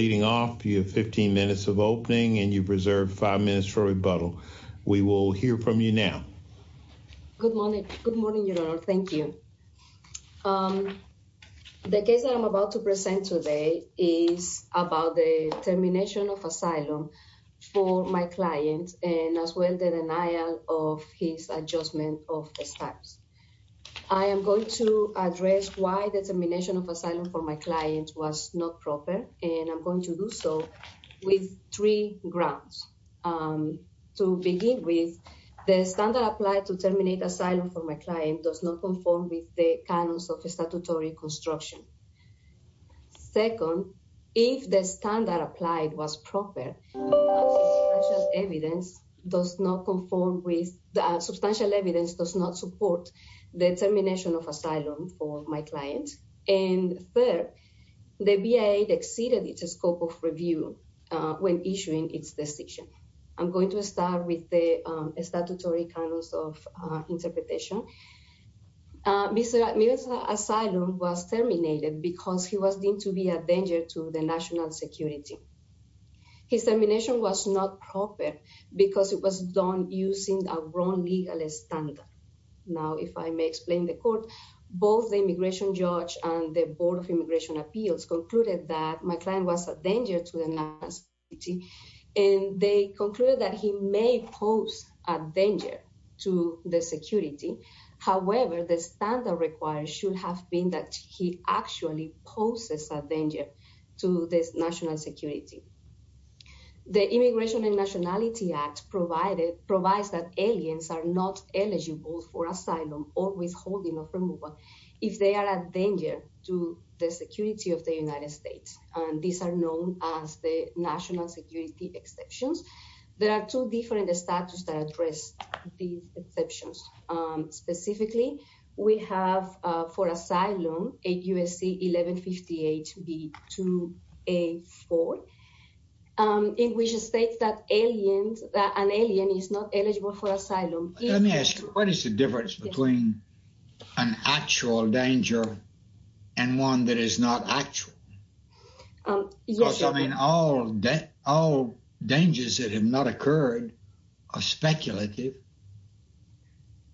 leading off. You have 15 minutes of opening and you preserve five minutes for rebuttal. We will hear from you now. Good morning. Good morning. Thank you. The case that I'm about to present today is about the termination of asylum for my client and as well the denial of his adjustment of the status. I am going to address why the termination of asylum for my client was not proper, and I'm going to do so with three grounds. To begin with, the standard applied to terminate asylum for my client does not conform with the canons of statutory construction. Second, if the standard applied was proper, the evidence does not conform with the substantial evidence does not support the termination of asylum for my client. And third, the VA exceeded its scope of review when issuing its decision. I'm going to start with the statutory canons of interpretation. Mr. Mirza's asylum was terminated because he was deemed to be a danger to the national security. His termination was not proper because it was done using a wrong legal standard. Now, if I may explain the court, both the immigration judge and the Board of Immigration Appeals concluded that my client was a danger to the national security, and they concluded that he may pose a danger to the security. However, the standard required should have been that he actually poses a danger to this national security. The Immigration and Nationality Act provides that aliens are not eligible for asylum or withholding of removal if they are a danger to the security of the United States. These are known as the national security exceptions. There are two different statutes that address these exceptions. Specifically, we have for asylum. Let me ask you, what is the difference between an actual danger and one that is not actual? I mean, all dangers that have not occurred are speculative.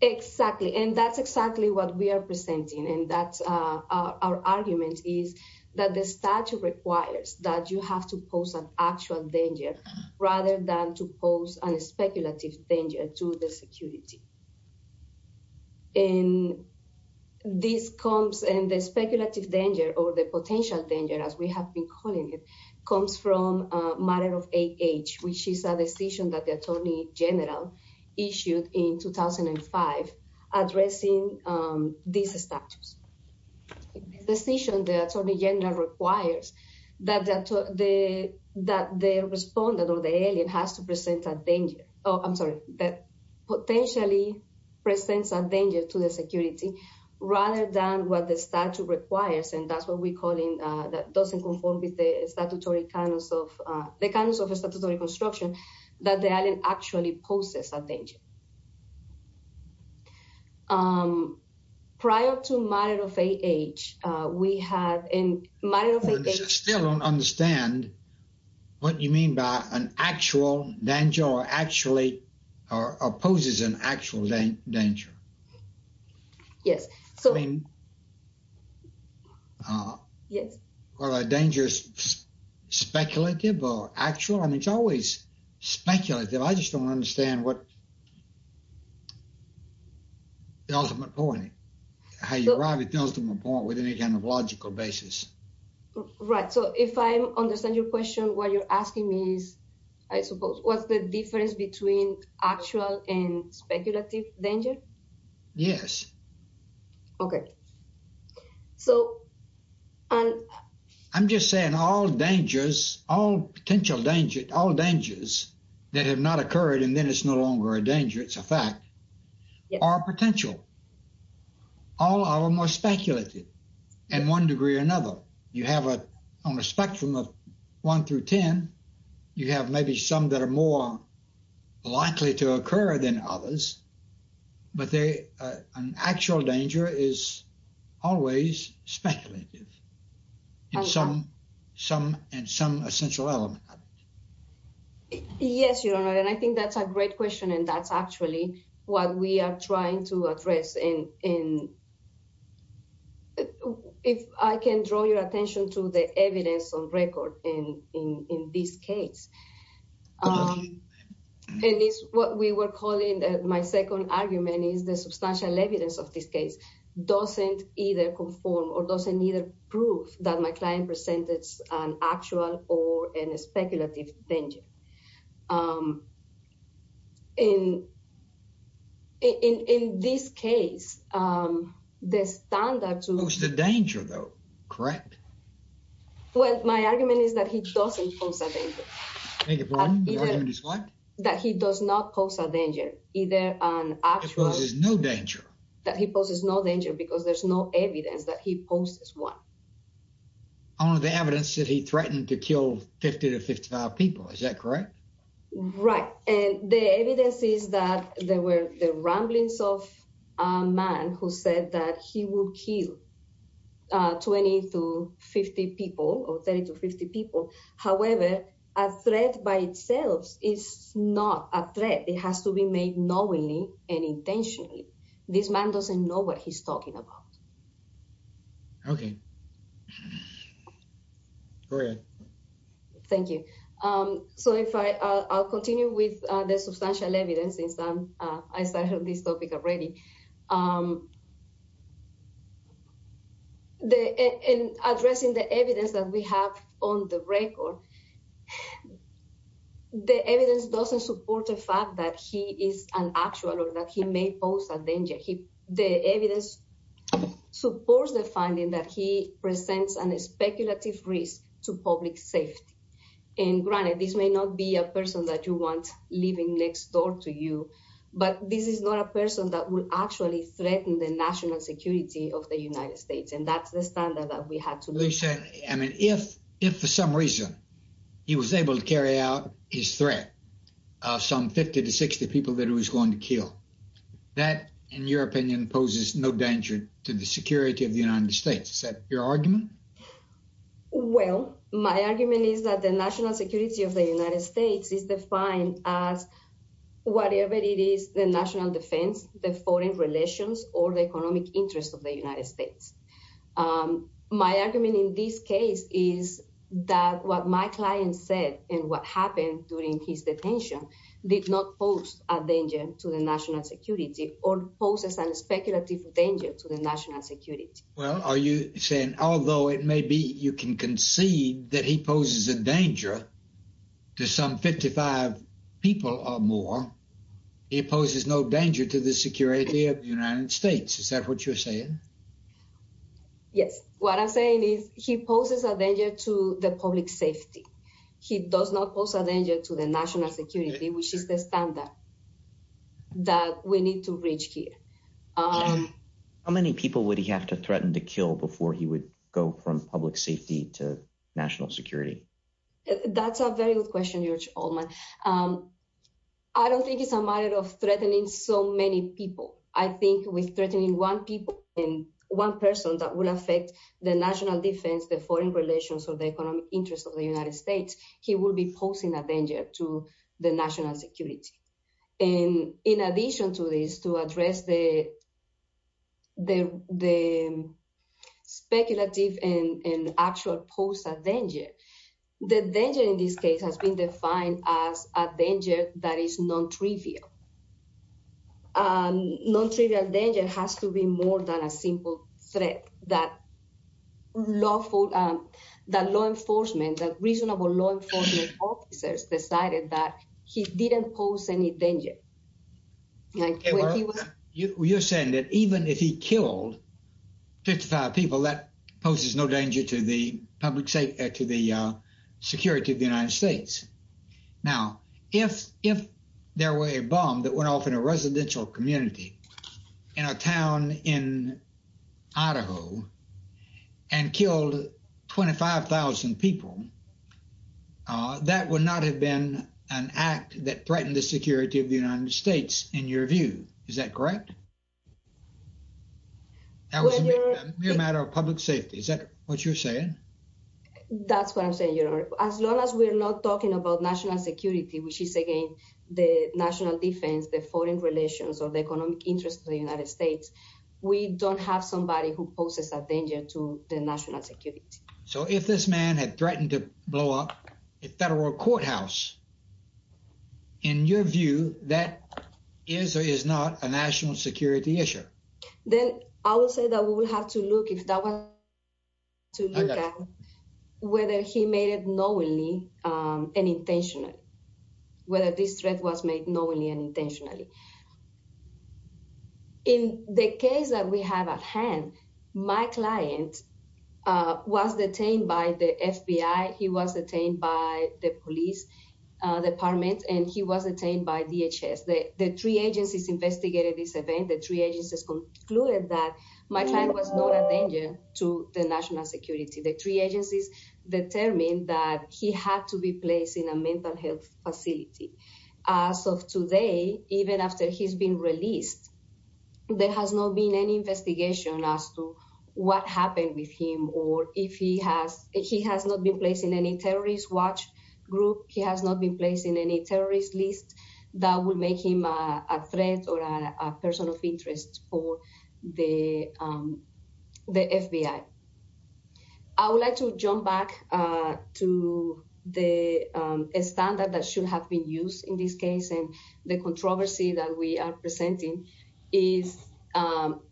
Exactly. And that's exactly what we are presenting. And that's our argument is that the statute requires that you have to pose an actual danger rather than to pose a speculative danger to the security. And this comes in the speculative danger or the potential danger, as we have been calling it, comes from a matter of age, which is a decision that the Attorney General issued in 2005, addressing these statutes. The decision the Attorney General requires that the respondent or the alien has to present a danger, oh, I'm sorry, that potentially presents a danger to the security rather than what the statute requires. And that's what we're calling, that doesn't conform with the statutory kind of, the kind of statutory construction that the alien actually poses a danger. Prior to a matter of age, we had a matter of age. I still don't understand what you mean by an actual danger or actually, or poses an actual danger. Yes. So, I mean, yes. Well, a dangerous speculative or actual, I mean, it's always speculative. I just don't understand what the ultimate point, how you arrive at the ultimate point with any kind of logical basis. Right. So if I understand your question, what you're asking me is, I suppose, what's the answer? I'm just saying all dangers, all potential dangers, all dangers that have not occurred and then it's no longer a danger, it's a fact, are potential. All are more speculated in one degree or another. You have on a spectrum of one through 10, you have maybe some that are more likely to occur than others, but an actual danger is always speculative and some essential element of it. Yes, Your Honor. And I think that's a great question. And that's actually what we are trying to address. And if I can draw your attention to the evidence on record in this case. It is what we were calling, my second argument is the substantial evidence of this case doesn't either conform or doesn't either prove that my client presented an actual or a speculative danger. In this case, the standard to... Post a danger though, correct? Well, my argument is that he doesn't pose a danger. I beg your pardon? Your argument is what? That he does not pose a danger, either an actual... He poses no danger. That he poses no danger because there's no evidence that he poses one. Only the evidence that he threatened to kill 50 to 55 people, is that correct? Right. And the evidence is that there were the ramblings of a man who said that he will kill 20 to 50 people or 30 to 50 people. However, a threat by itself is not a threat. It has to be made knowingly and intentionally. This man doesn't know what he's talking about. Okay. Go ahead. Thank you. So I'll continue with the substantial evidence since I started this topic already. The... In addressing the evidence that we have on the record, the evidence doesn't support the fact that he is an actual or that he may pose a danger. The evidence supports the finding that he presents a speculative risk to public safety. And granted, this may not be a person that you want living next door to you, but this is not a person that will actually threaten the national security of the United States. And that's the standard that we had to... Lisa, I mean, if for some reason, he was able to carry out his threat of some 50 to 60 people that he was going to kill, that, in your opinion, poses no danger to the security of the United States. Is that your argument? Well, my argument is that the national security of the United States is defined as whatever it is, the national defense, the foreign relations or the economic interest of the United States. My argument in this case is that what my client said and what happened during his detention did not pose a danger to the national security or poses a speculative danger to the national security. Well, are you saying, although it may be you can concede that he poses a danger to some 55 people or more, he poses no danger to the security of the United States? Is that what you're saying? Yes. What I'm saying is he poses a danger to the public safety. He does not pose a danger to the national security, which is the standard that we need to reach here. How many people would he have to threaten to kill before he would go from public safety to public safety? That's a very good question, George Olman. I don't think it's a matter of threatening so many people. I think with threatening one person that will affect the national defense, the foreign relations or the economic interest of the United States, he will be posing a danger to the national security. And in addition to this, to address the speculative and actual pose a danger, the danger in this case has been defined as a danger that is non-trivial. Non-trivial danger has to be more than a simple threat that law enforcement, that reasonable law enforcement officers decided that he didn't pose any danger. Well, you're saying that even if he killed 55 people that poses no danger to the public safety, to the security of the United States. Now, if there were a bomb that went off in a residential community in a town in Idaho and killed 25,000 people, that would not have been an act that in your view, is that correct? That was a mere matter of public safety. Is that what you're saying? That's what I'm saying, George. As long as we're not talking about national security, which is again, the national defense, the foreign relations or the economic interest of the United States, we don't have somebody who poses a danger to the national security. So if this man had threatened to blow up a federal courthouse, in your view, that is or is not a national security issue? Then I would say that we will have to look if that was to look at whether he made it knowingly and intentionally, whether this threat was made knowingly and intentionally. In the case that we have at hand, my client was detained by the FBI. He was detained by the police department and he was detained by DHS. The three agencies investigated this event. The three agencies concluded that my client was not a danger to the national security. The three agencies determined that he had to be placed in a mental health facility. As of today, even after he's been released, there has not been any investigation as to what happened with him or if he has, he has not been placed in any terrorist watch group. He has not been placed in any terrorist list that would make him a threat or a person of interest for the FBI. I would like to jump back to the standard that should have been used in this case and the controversy that we are presenting is,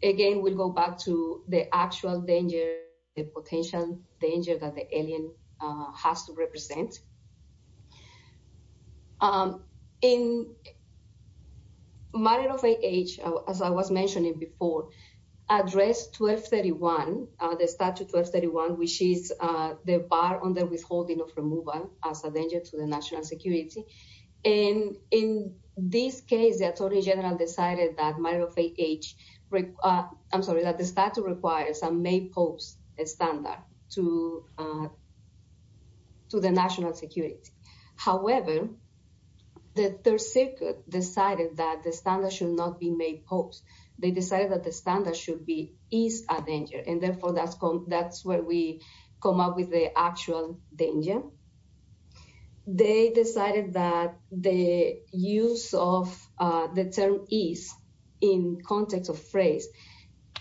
again, we'll go back to the actual danger, the potential danger that the alien has to represent. In Mariofe H, as I was mentioning before, address 1231, the statute 1231, which is the bar on the withholding of removal as a danger to the national security. And in this case, the attorney general decided that Mariofe H, I'm sorry, that the statute requires a made post standard to the national security. However, the third circuit decided that the standard should not be made post. They decided that the standard should be, is a danger. And therefore that's where we come up with the actual danger. They decided that the use of the term is in context of phrase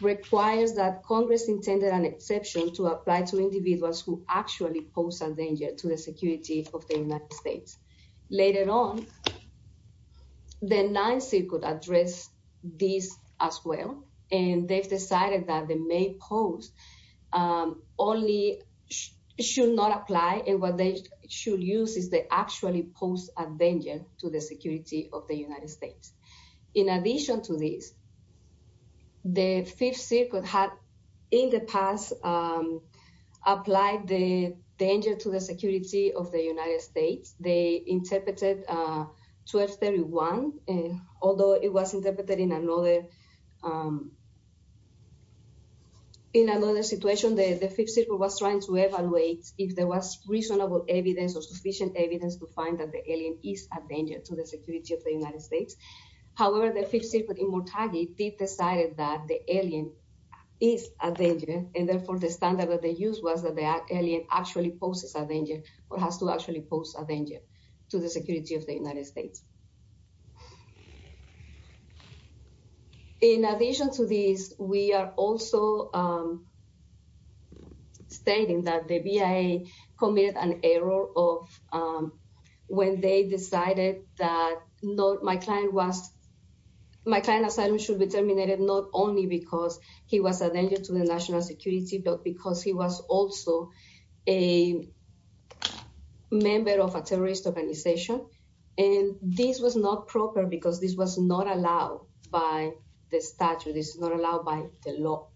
requires that Congress intended an exception to apply to individuals who actually pose a danger to the security of the United States. Later on, the ninth circuit address this as well. And they've decided that the made post only should not apply. And what they should use is they actually pose a danger to the security of the United States. In addition to this, the fifth circuit had in the past applied the danger to the security of the United States. They interpreted 1231, although it was interpreted in another way. In another situation, the fifth circuit was trying to evaluate if there was reasonable evidence or sufficient evidence to find that the alien is a danger to the security of the United States. However, the fifth circuit in Murtaghi did decide that the alien is a danger. And therefore the standard that they use was that the alien actually poses a danger or has to actually pose a danger to the security of the United States. In addition to these, we are also stating that the BIA committed an error of when they decided that my client was my client asylum should be terminated not only because he was a danger to the national security, but because he was also a member of a terrorist organization. And this was not proper because this was not allowed by the statute. This is not allowed by the law.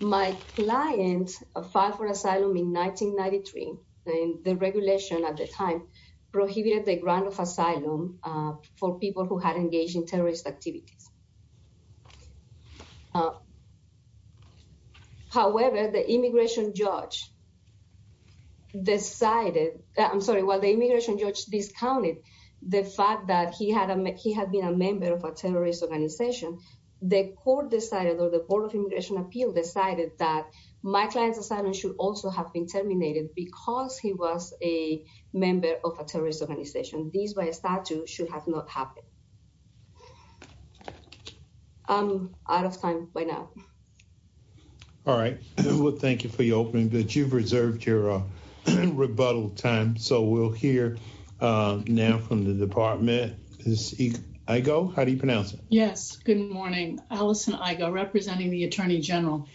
My client filed for asylum in 1993 and the regulation at the time prohibited the grant of asylum for people who had engaged in terrorist activities. However, the immigration judge decided, I'm sorry, while the immigration judge discounted the fact that he had been a member of a terrorist organization, the court decided or the Board of Immigration Appeal decided that my client's asylum should also have been terminated because he was a member of a terrorist organization. This by statute should have not happened. I'm out of time by now. All right. Well, thank you for your opening, but you've reserved your rebuttal time. So we'll hear now from the department. Is Igo? How do you pronounce it? Yes. Good morning. Alison Igo, representing the Attorney General.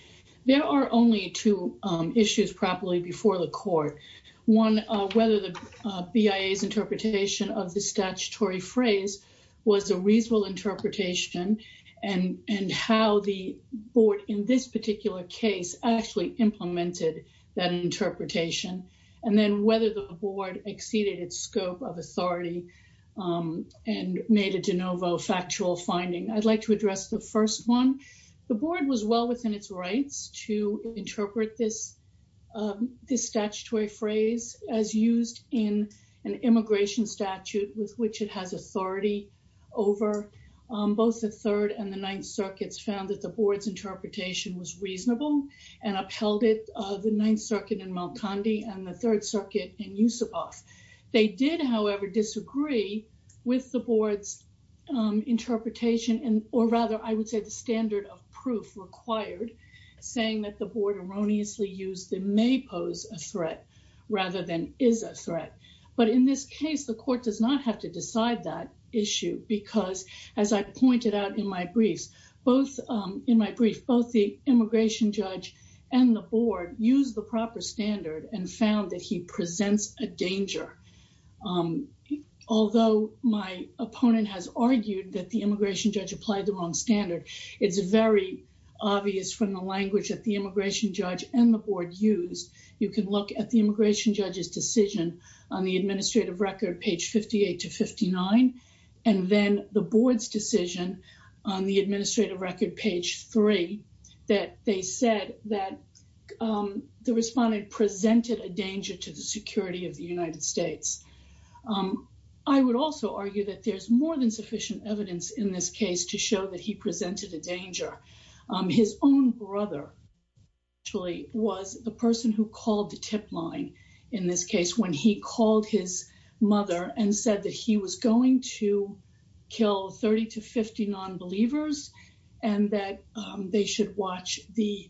There are only two issues properly before the court. One, whether the BIA's interpretation of the statutory phrase was a reasonable interpretation and how the board in this particular case actually implemented that interpretation. And then whether the board exceeded its scope of authority and made a de novo factual finding. I'd like to address the first one. The board was well within its rights to interpret this statutory phrase as used in an immigration statute with which it has authority over. Both the Third and the Ninth Circuits found that the board's interpretation was reasonable and upheld it. The Ninth Circuit in Malkandi and the Third Circuit in Yusupov. They did, however, disagree with the board's interpretation or rather, I would say the standard of proof required, saying that the board erroneously used the may pose a threat rather than is a threat. But in this case, the court does not have to decide that issue because as I pointed out in my briefs, both in my brief, both the immigration judge and the board use the proper standard and found that he presents a danger. Although my opponent has argued that the immigration judge applied the wrong standard, it's very obvious from the language that the immigration judge and the board used. You can look at the immigration judge's decision on the administrative record, page 58 to 59, and then the board's decision on the administrative record, page three, that they said that the respondent presented a danger to the security of the United States. I would also argue that there's more than sufficient evidence in this case to show that he presented a danger. His own brother actually was the person who called the tip line in this case when he called his mother and said that he was going to kill 30 to 50 non-believers and that they should watch the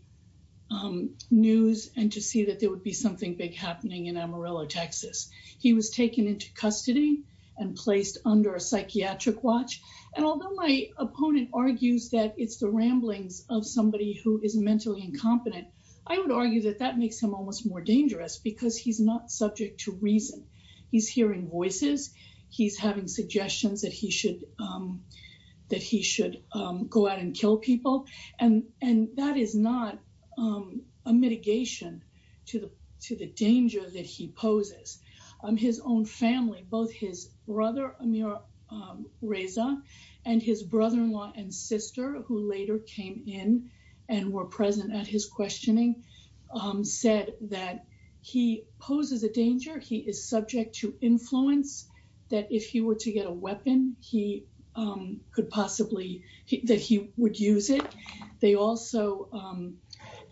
news and to see that there would be something big happening in Amarillo, Texas. He was taken into custody and placed under a psychiatric watch. And although my opponent argues that it's the ramblings of somebody who is mentally incompetent, I would argue that that makes him almost more dangerous because he's not subject to reason. He's hearing voices. He's having suggestions that he should go out and kill people. And that is not a mitigation to the danger that he poses. His own family, both his brother Amir Reza and his brother-in-law and sister, who later came in and were present at his questioning, said that he poses a danger. He is subject to influence that if he were to get a weapon, he could possibly, that he would use it. They also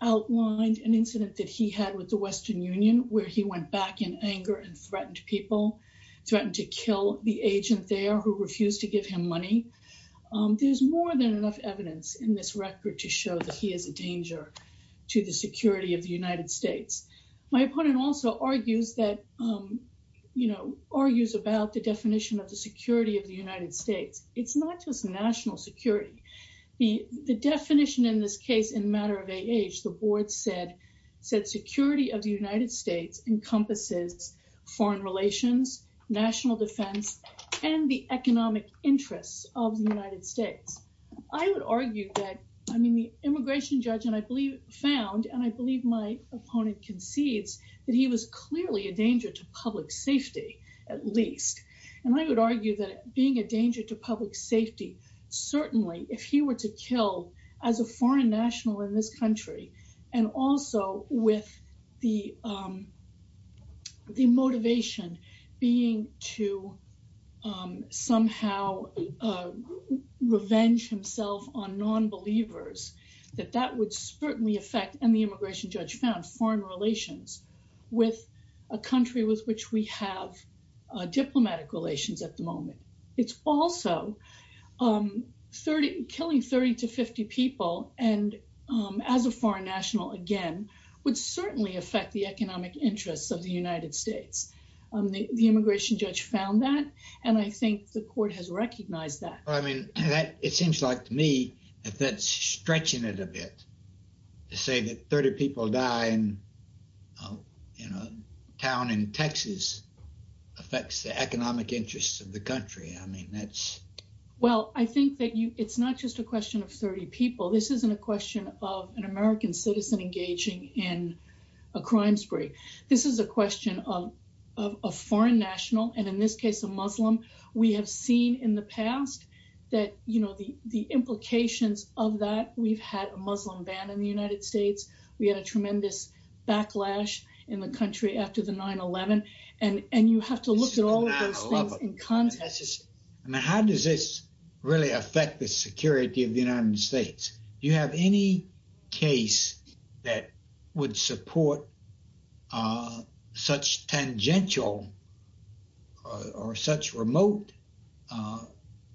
outlined an incident that he had with the Western Union where he went back in anger and threatened people, threatened to kill the agent there who refused to give him money. There's more than enough evidence in this record to show that he is a danger to the security of the United States. My opponent also argues that, you know, argues about the definition of the security of the United States. It's not just national security. The definition in this case in matter of age, the board said, said security of the United States encompasses foreign relations, national defense, and the economic interests of the United States. I would argue that, I mean, the immigration judge, and I believe found, and I believe my opponent concedes that he was clearly a danger to public safety, at least. And I would argue that being a danger to public safety, certainly if he were to kill as a foreign national in this country, and also with the motivation being to somehow revenge himself on non-believers, that that would certainly affect, and the immigration judge found, foreign relations with a country with which we have diplomatic relations at the moment. It's also 30, killing 30 to 50 people, and as a foreign national, again, would certainly affect the economic interests of the United States. The immigration judge found that, and I think the court has recognized that. I mean, that, it seems like to me, that's stretching it a bit to say that 30 people die in, you know, a town in Texas affects the economic interests of the country. I mean, that's... Well, I think that you, it's not just a question of 30 people. This isn't a question of an American citizen engaging in a crime spree. This is a question of a foreign national, and in this case, a Muslim. We have seen in the past that, you know, the implications of that, we've had a Muslim ban in the United States. We had a tremendous backlash in the country after the 9-11, and you have to look at all of those things in context. I mean, how does this really affect the security of the United States? Do you have any case that would support such tangential or such remote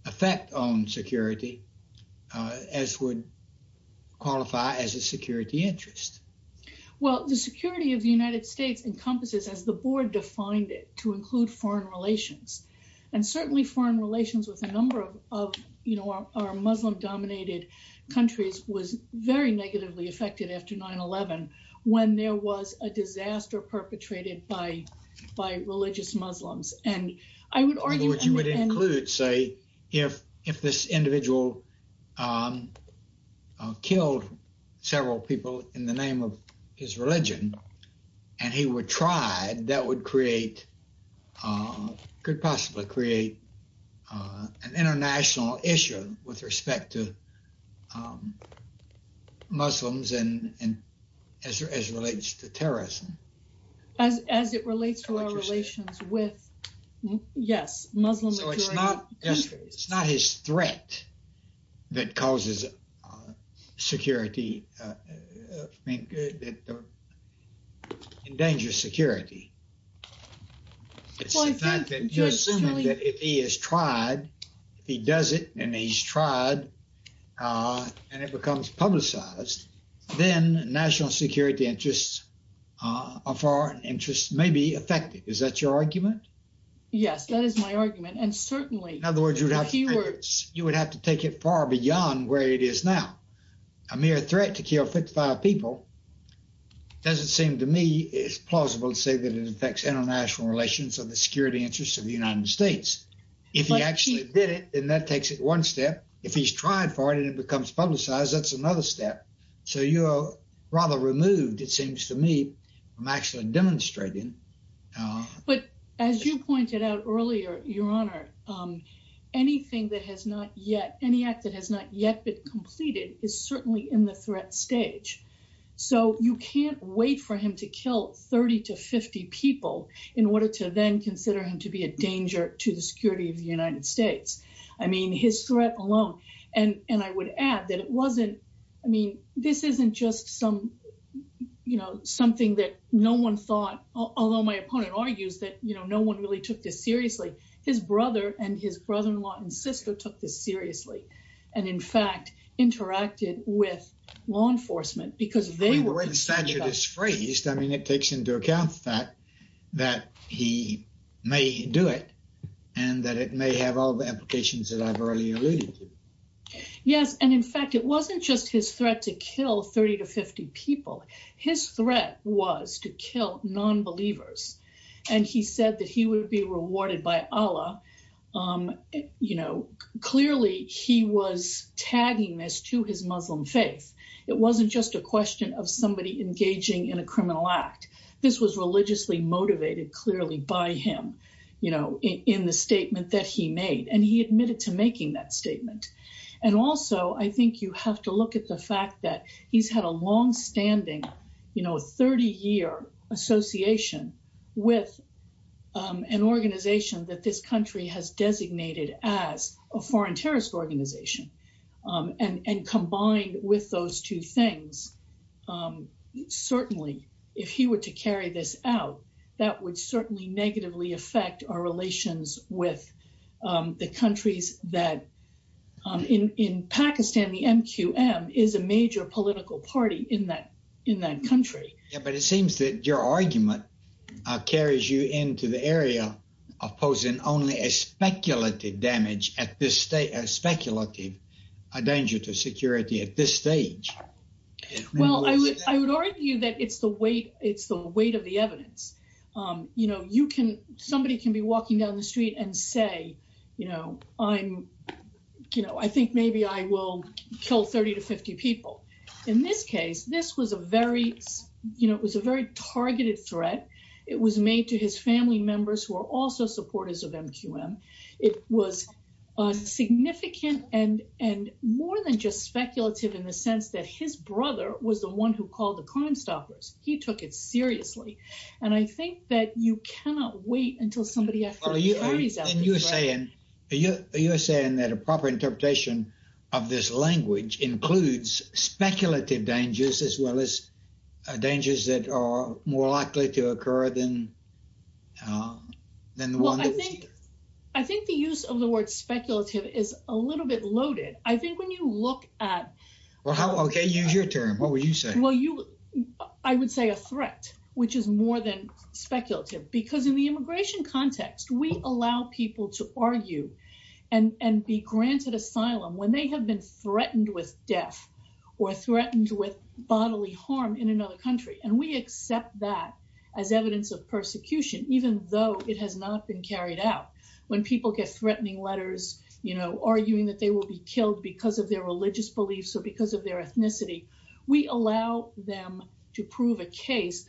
effect on security as would qualify as a security interest? Well, the security of the United States encompasses, as the board defined it, to include foreign relations, and certainly foreign relations with a number of, you know, our Muslim-dominated countries was very negatively affected after 9-11 when there was a disaster perpetrated by religious Muslims, and I would argue... Which you would include, say, if this individual killed several people in the name of his religion, and he would try, that would create, could possibly create an international issue with respect to Muslims and as it relates to terrorism. As it relates to our relations with, yes, Muslim-dominated countries. So it's not just, it's not his threat that causes security, I think, that endangers security. It's the fact that if he has tried, if he does it and he's tried, and it becomes publicized, then national security interests or foreign interests may be affected. Is that your argument? Yes, that is my argument, and certainly... In other words, you would have to take it far beyond where it is now. A mere threat to kill 55 people doesn't seem to me plausible to say that it affects international relations or the security interests of the United States. If he actually did it, then that takes it one step. If he's tried for it and it becomes publicized, that's another step. So you're rather removed, it seems to me, from actually demonstrating. But as you pointed out earlier, Your Honor, anything that has not yet, any act that has not yet been completed is certainly in the threat stage. So you can't wait for him to kill 30 to 50 people in order to then consider him to be a danger to the security of the United States. I mean, his threat alone. And I would add that it wasn't, I mean, this isn't just some, you know, something that no one thought, although my opponent argues that, you know, no one really took this seriously. His brother and his brother-in-law and sister took this seriously, and in fact, interacted with law enforcement because they were concerned about... We wouldn't say you're displeased. I mean, it takes into account the fact that he may do it and that it may have all the applications that I've already alluded to. Yes. And in fact, it wasn't just his threat to kill 30 to 50 people. His threat was to kill non-believers. And he said that he would be rewarded by Allah. You know, clearly he was tagging this to his Muslim faith. It wasn't just a question of somebody engaging in a criminal act. This was religiously motivated clearly by him, you know, in the statement that he made, and he admitted to making that statement. And also, I think you have to look at the fact that he's had a longstanding, you know, 30-year association with an organization that this country has designated as a foreign terrorist organization. And combined with those two things, certainly, if he were to carry this out, that would certainly negatively affect our relations with the countries that... In Pakistan, the MQM is a major political party in that country. Yeah, but it seems that your argument carries you into the area of posing only a speculative at this stage, a speculative danger to security at this stage. Well, I would argue that it's the weight of the evidence. You know, somebody can be walking down the street and say, you know, I think maybe I will kill 30 to 50 people. In this case, this was a very targeted threat. It was made to his family members who are also supporters of MQM. It was significant and more than just speculative in the sense that his brother was the one who called the Crimestoppers. He took it seriously. And I think that you cannot wait until somebody actually carries out this threat. Well, you're saying that a proper interpretation of this language includes speculative dangers as well as dangers that are more likely to occur than... Well, I think the use of the word speculative is a little bit loaded. I think when you look at... Well, okay, use your term. What would you say? Well, I would say a threat, which is more than speculative because in the immigration context, we allow people to argue and be granted asylum when they have been threatened with death or threatened with bodily harm in another country. And we accept that as evidence of persecution, even though it has not been carried out. When people get threatening letters, you know, arguing that they will be killed because of their religious beliefs or because of their ethnicity, we allow them to prove a case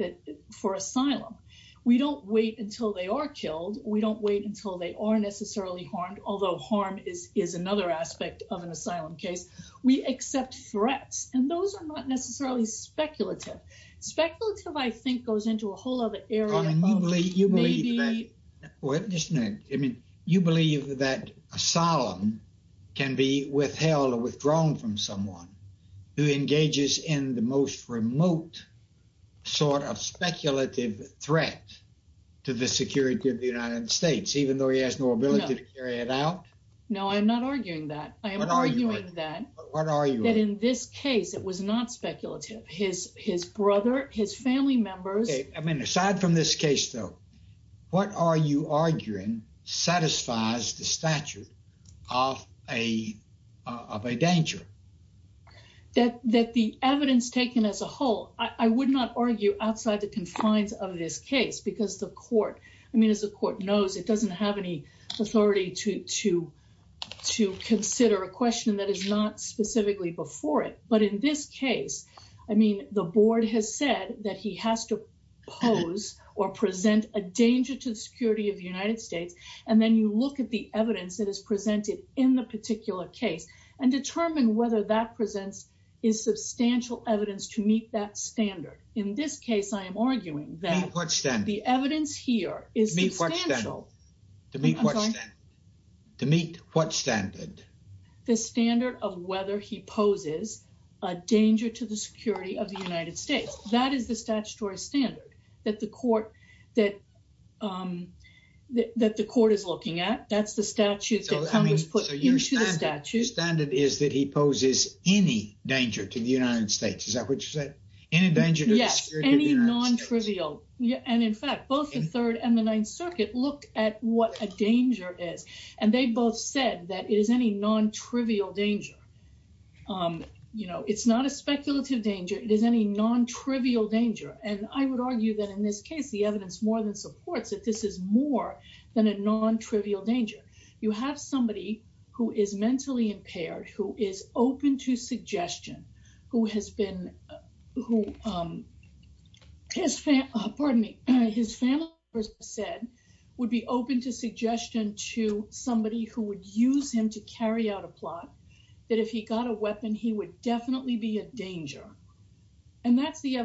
for asylum. We don't wait until they are killed. We don't wait until they are necessarily harmed, although harm is another aspect of an asylum case. We accept threats, and those are not necessarily speculative. Speculative, I think, goes into a whole other area. Carmen, you believe that... Maybe... Well, just a minute. I mean, you believe that asylum can be withheld or withdrawn from someone who engages in the most remote sort of speculative threat to the security of the United States, even though he has no ability to carry it out? No, I'm not arguing that. I am arguing that in this case, it was not speculative. His brother, his family members... I mean, aside from this case, though, what are you arguing satisfies the statute of a danger? That the evidence taken as a whole, I would not argue outside the confines of this case, because the court... I mean, as the court knows, it doesn't have any authority to consider a question that is not specifically before it. But in this case, I mean, the board has said that he has to pose or present a danger to the security of the United States. And then you look at the evidence that is presented in the particular case and determine whether that presents is substantial evidence to meet that standard. In this case, I am arguing that... To meet what standard? To meet what standard? The standard of whether he poses a danger to the security of the United States. That is the statutory standard that the court is looking at. That's the statute that Congress put into the statute. The standard is that he poses any danger to the United States. Is that what you said? Any danger to the security of the United States. Yes, any non-trivial. And in fact, both the Third and the Ninth Circuit looked at what a danger is, and they both said that it is any non-trivial danger. It's not a speculative danger. It is any non-trivial danger. And I would argue that in this case, the evidence more than supports that this is more than a non-trivial danger. You have somebody who is mentally impaired, who is open to suggestion, who has been... Pardon me. His family members said would be open to suggestion to somebody who would use him to carry out a plot, that if he got a weapon, he would definitely be a danger. And that's the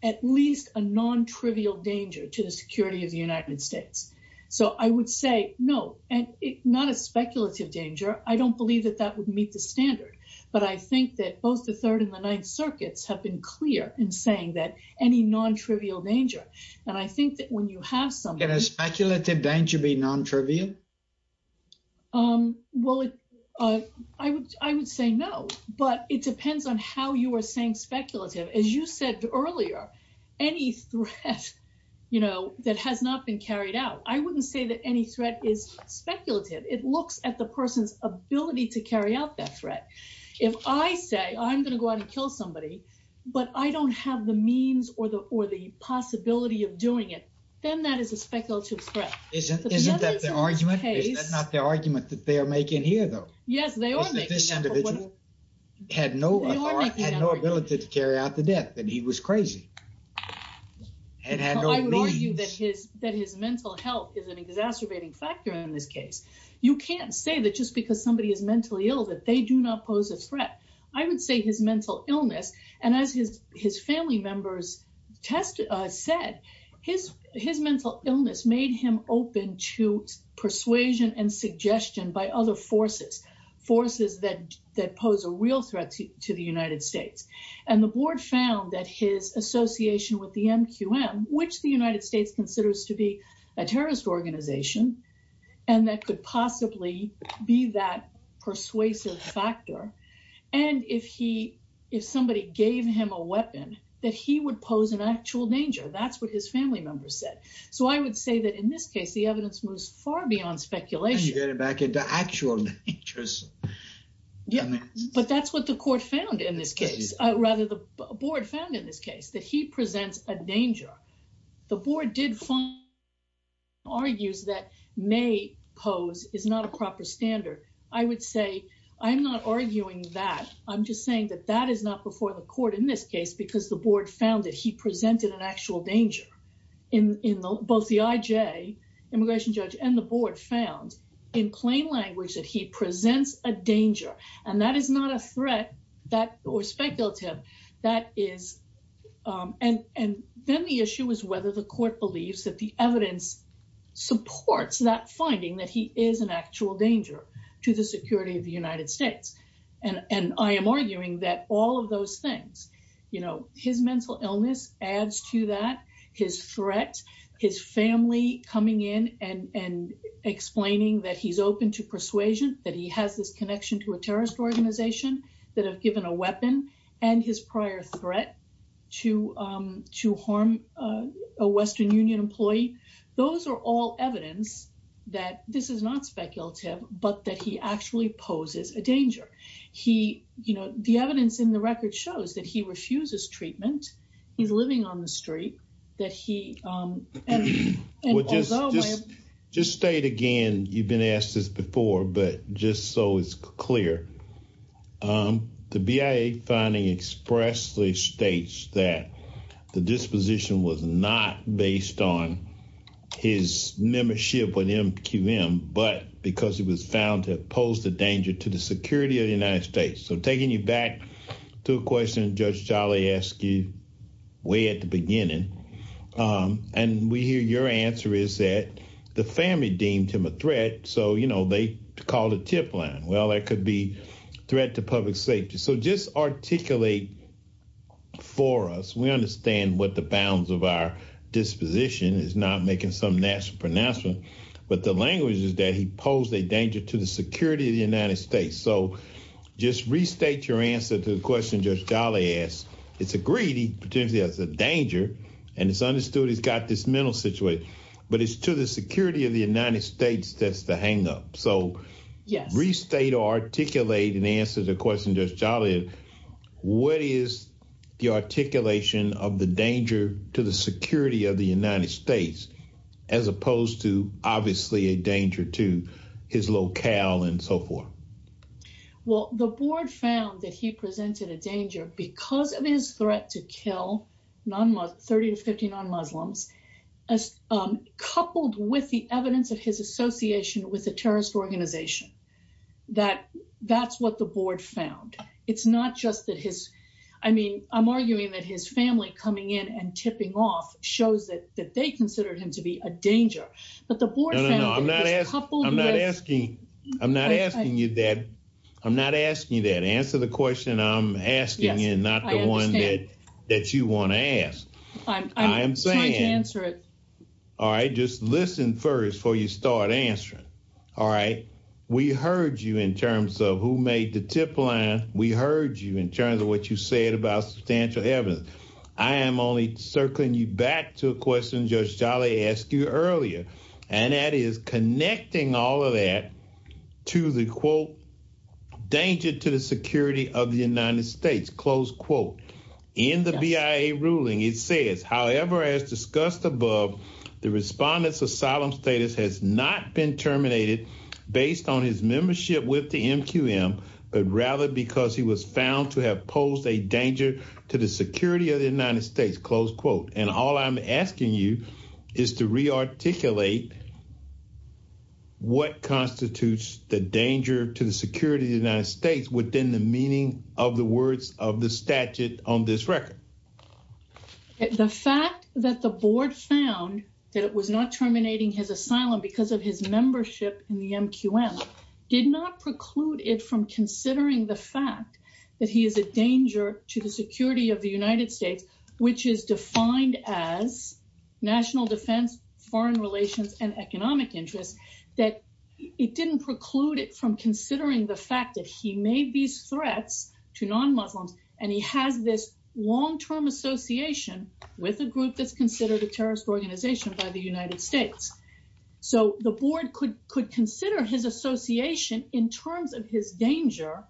at least a non-trivial danger to the security of the United States. So I would say no, and not a speculative danger. I don't believe that that would meet the standard. But I think that both the Third and the Ninth Circuits have been clear in saying that any non-trivial danger. And I think that when you have some... Can a speculative danger be non-trivial? Well, I would say no, but it depends on how you are saying speculative. As you said earlier, any threat that has not been carried out, I wouldn't say that any threat is speculative. It looks at the person's ability to carry out that threat. If I say, I'm going to go out and kill somebody, but I don't have the means or the possibility of doing it, then that is a case... Is that not the argument that they are making here though? Yes, they are making. This individual had no ability to carry out the death and he was crazy. I would argue that his mental health is an exacerbating factor in this case. You can't say that just because somebody is mentally ill, that they do not pose a threat. I would say his and suggestion by other forces, forces that pose a real threat to the United States. And the board found that his association with the MQM, which the United States considers to be a terrorist organization, and that could possibly be that persuasive factor. And if somebody gave him a weapon, that he would pose an actual danger. That's what his family members said. So I would say that in this case, the evidence moves far beyond speculation. You get it back into actual dangers. But that's what the court found in this case, rather the board found in this case, that he presents a danger. The board did find... argues that may pose is not a proper standard. I would say, I'm not arguing that. I'm just saying that that is not before the court in this case, because the board found that he presented an actual danger in both the IJ, immigration judge and the board found in plain language that he presents a danger. And that is not a threat that or speculative that is. And then the issue is whether the court believes that the evidence supports that finding that he is an actual danger to the security of those things. His mental illness adds to that, his threat, his family coming in and explaining that he's open to persuasion, that he has this connection to a terrorist organization that have given a weapon and his prior threat to harm a Western Union employee. Those are all evidence that this is not speculative, but that he actually poses a danger. He, you know, the evidence in the record shows that he refuses treatment. He's living on the street. Just state again, you've been asked this before, but just so it's clear. The BIA finding expressly states that the disposition was not based on his membership with MQM, but because he was found to pose a danger to the security of the United States. So taking you back to a question Judge Jolly asked you way at the beginning, and we hear your answer is that the family deemed him a threat. So, you know, they called a tip line. Well, that could be threat to public safety. So just articulate for us. We understand what the bounds of our disposition is not making some natural pronouncement, but the language is that he posed a danger to the security of the United States. So just restate your answer to the question Judge Jolly asked. It's agreed he potentially has a danger and it's understood he's got this mental situation, but it's to the security of the United States that's the hang up. So restate or articulate in answer to the question Judge Jolly asked, what is the articulation of the danger to the security of the United States, as opposed to obviously a danger to his locale and so forth? Well, the board found that he presented a danger because of his threat to kill 30 to 50 non-Muslims, coupled with the evidence of his association with a terrorist organization. That's what the board found. It's not just that his, I mean, I'm arguing that his family coming in and tipping off shows that they considered him to be a danger, but the board found that he was coupled with- No, no, no. I'm not asking you that. I'm not asking you that. Answer the question I'm asking you, not the one that you want to ask. I'm trying to answer it. All right. Just listen first before you start answering. All right. We heard you in terms of who made the tip line. We heard you in terms of what you said about substantial evidence. I am only circling you back to a question Judge Jolly asked you earlier, and that is connecting all of that to the, quote, danger to the security of the United States, close quote. In the BIA ruling, it says, however, as discussed above, the respondent's asylum status has not been terminated based on his membership with the MQM, but rather because he was found to have posed a danger to the security of the United States, close quote. And all I'm asking you is to rearticulate what constitutes the danger to the security of the United States within the meaning of the words of the statute on this record. The fact that the board found that it was not terminating his asylum because of his membership in the MQM did not preclude it from considering the fact that he is a danger to the security of the United States, which is defined as national defense, foreign relations, and economic interests, that it didn't preclude it from considering the fact that he made these threats to non-Muslims, and he has this long-term association with a group that's considered a terrorist organization by the United States. So the board could consider his danger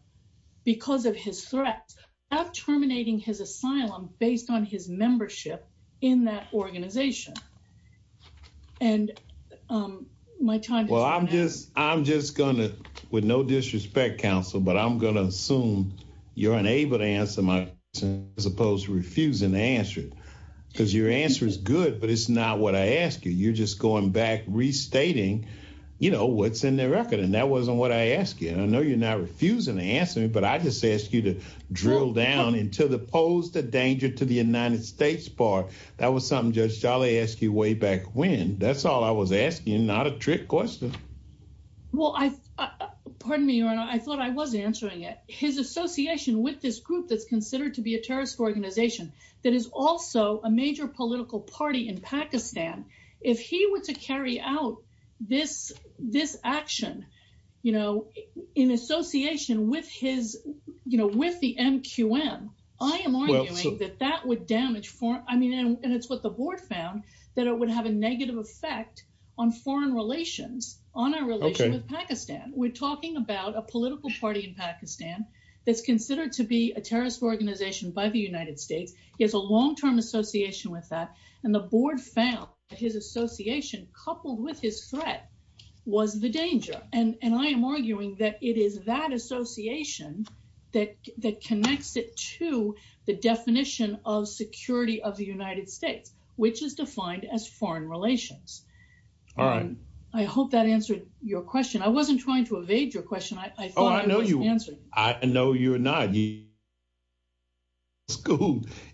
because of his threat of terminating his asylum based on his membership in that organization. And my time... Well, I'm just, I'm just gonna, with no disrespect, counsel, but I'm gonna assume you're unable to answer my question, as opposed to refusing to answer it, because your answer is good, but it's not what I asked you. You're just going back restating, you know, what's in the record, and that wasn't what I asked you, and I know you're not refusing to answer me, but I just asked you to drill down into the pose the danger to the United States part. That was something Judge Charlie asked you way back when. That's all I was asking, not a trick question. Well, I, pardon me, Your Honor, I thought I was answering it. His association with this group that's considered to be a terrorist organization that is also a major political party in Pakistan, if he were to carry out this, this action, you know, in association with his, you know, with the MQM, I am arguing that that would damage foreign, I mean, and it's what the board found, that it would have a negative effect on foreign relations, on our relations with Pakistan. We're talking about a political party in Pakistan that's considered to He has a long-term association with that, and the board found that his association coupled with his threat was the danger, and I am arguing that it is that association that connects it to the definition of security of the United States, which is defined as foreign relations. All right. I hope that answered your question. I wasn't trying to evade your question. I thought you were not.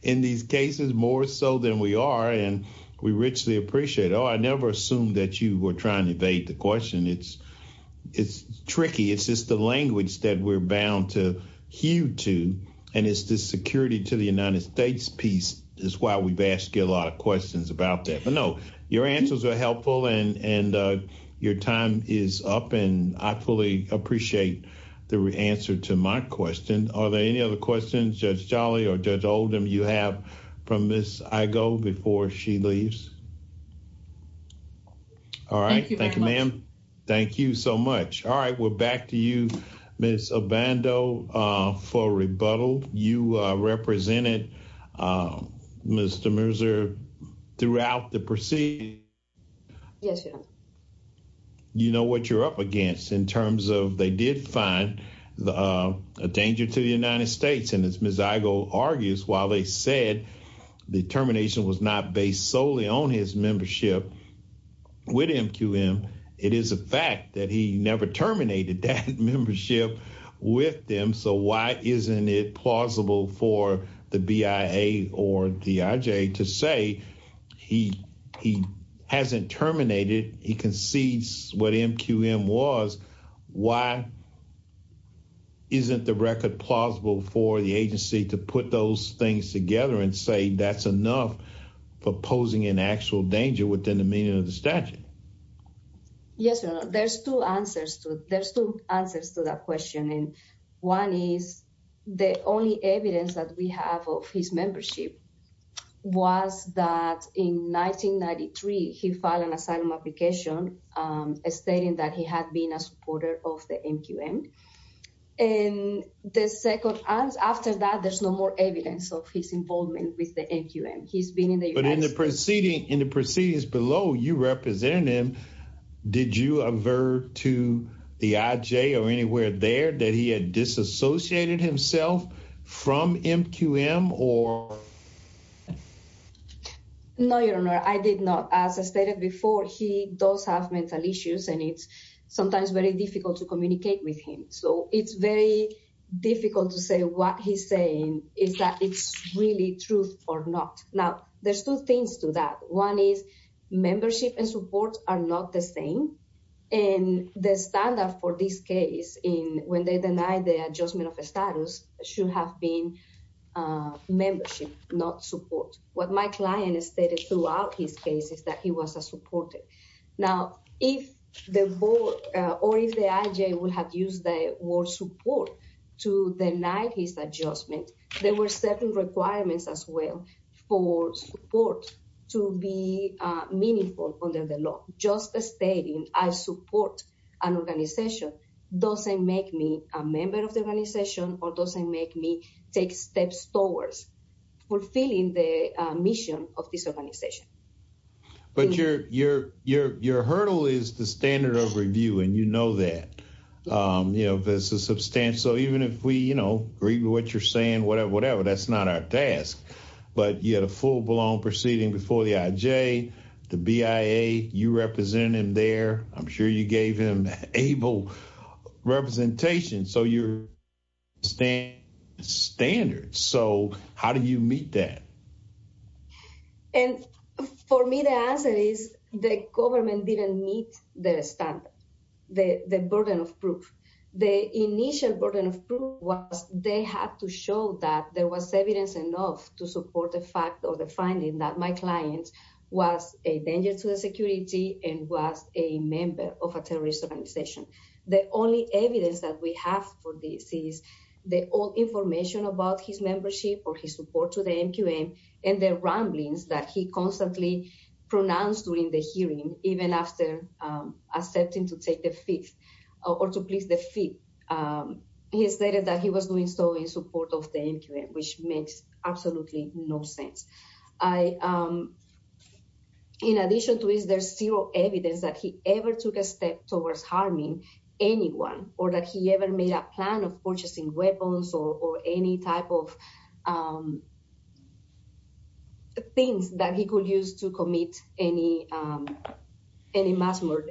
In these cases, more so than we are, and we richly appreciate it. Oh, I never assumed that you were trying to evade the question. It's, it's tricky. It's just the language that we're bound to hew to, and it's the security to the United States piece is why we've asked you a lot of questions about that. But no, your answers are helpful, and, and your time is up, and I fully appreciate the answer to my question. Are there any other questions, Judge Jolly or Judge Oldham, you have from Miss Igoe before she leaves? All right. Thank you, ma'am. Thank you so much. All right. We're back to you, Miss Obando, for rebuttal. You represented Mr. Merzer throughout the proceeding. Yes, sir. You know what you're up against in terms of they did find a danger to the United States, and as Miss Igoe argues, while they said the termination was not based solely on his membership with MQM, it is a fact that he never terminated that membership with them. So why isn't it plausible for the BIA or DIJ to say he, he hasn't terminated, he concedes what MQM was, why isn't the record plausible for the agency to put those things together and say that's enough for posing an actual danger within the meaning of the statute? Yes, there's two answers to, there's two answers to that question. And one is the only evidence that we have of his membership was that in 1993, he filed an asylum application stating that he had been a supporter of the MQM. And the second answer, after that, there's no more evidence of his involvement with the MQM. He's been in the United States. But in the proceeding, in the proceedings below, you represent him. Did you avert to the IJ or anywhere there that he had disassociated himself from MQM or? No, your honor, I did not. As I stated before, he does have mental issues, and it's sometimes very difficult to communicate with him. So it's very difficult to say what he's saying is that it's really true or not. Now, there's two things to that. One is membership and support are not the same. And the standard for this case in when they deny the adjustment of status should have been membership, not support. What my client stated throughout his case is that he was a supporter. Now, if the board or if the IJ would have used the word support to deny his adjustment, there were certain requirements as well for support to be meaningful under the law. Just stating I support an organization doesn't make me a member of the organization or doesn't make me take steps towards fulfilling the mission of this organization. But your hurdle is the that's not our task. But you had a full-blown proceeding before the IJ, the BIA, you represented him there. I'm sure you gave him able representation. So your standards, so how do you meet that? And for me, the answer is the government didn't meet the standard, the burden of proof. The initial burden of proof was they had to show that there was evidence enough to support the fact or the finding that my client was a danger to the security and was a member of a terrorist organization. The only evidence that we have for this is the old information about his membership or his support to the MQM and the ramblings that he constantly pronounced during the hearing, even after accepting to take the fifth or to please the fifth. He stated that he was doing so in support of the MQM, which makes absolutely no sense. In addition to this, there's zero evidence that he ever took a step towards harming anyone or that he ever made a plan of any mass murder.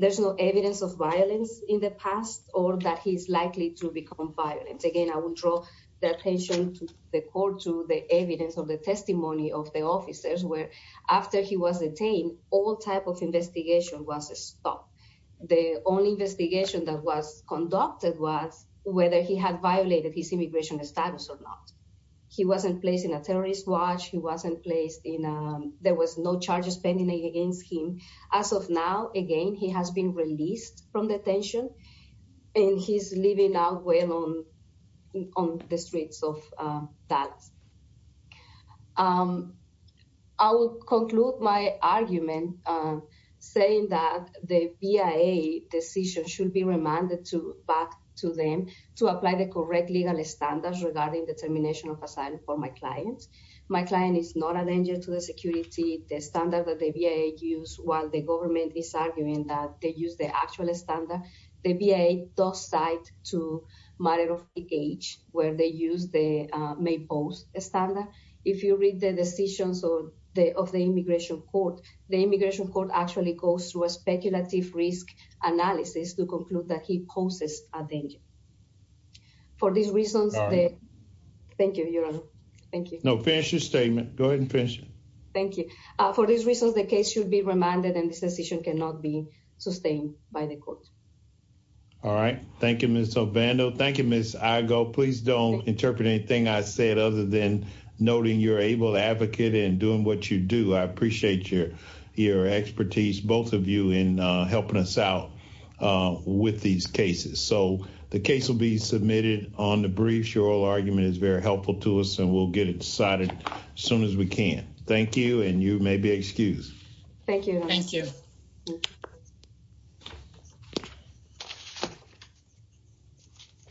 There's no evidence of violence in the past or that he's likely to become violent. Again, I would draw the attention to the court to the evidence of the testimony of the officers where after he was detained, all type of investigation was stopped. The only investigation that was conducted was whether he had violated his immigration status or not. He wasn't placed in a terrorist watch. He wasn't placed in, there was no charges pending against him. As of now, again, he has been released from detention and he's living out well on the streets of Dallas. I will conclude my argument saying that the BIA decision should be remanded back to them to apply the correct legal standards regarding the termination of asylum for my clients. My client is not a danger to the security. The standard that the BIA use while the government is arguing that they use the actual standard, the BIA does cite to matter of age where they use the May post standard. If you read the decisions of the immigration court, the immigration court actually goes through a speculative risk analysis to conclude that he poses a danger. For these reasons, thank you. No, finish your statement. Go ahead and finish it. Thank you. For these reasons, the case should be remanded and this decision cannot be sustained by the court. All right. Thank you, Ms. Ovando. Thank you, Ms. Igo. Please don't interpret anything I said other than noting you're able to advocate and doing what you do. I appreciate your expertise, both of you, in helping us out with these cases. The case will be submitted on the brief. Your argument is very helpful to us and we'll get it decided as soon as we can. Thank you and you may be excused. Thank you. Thank you.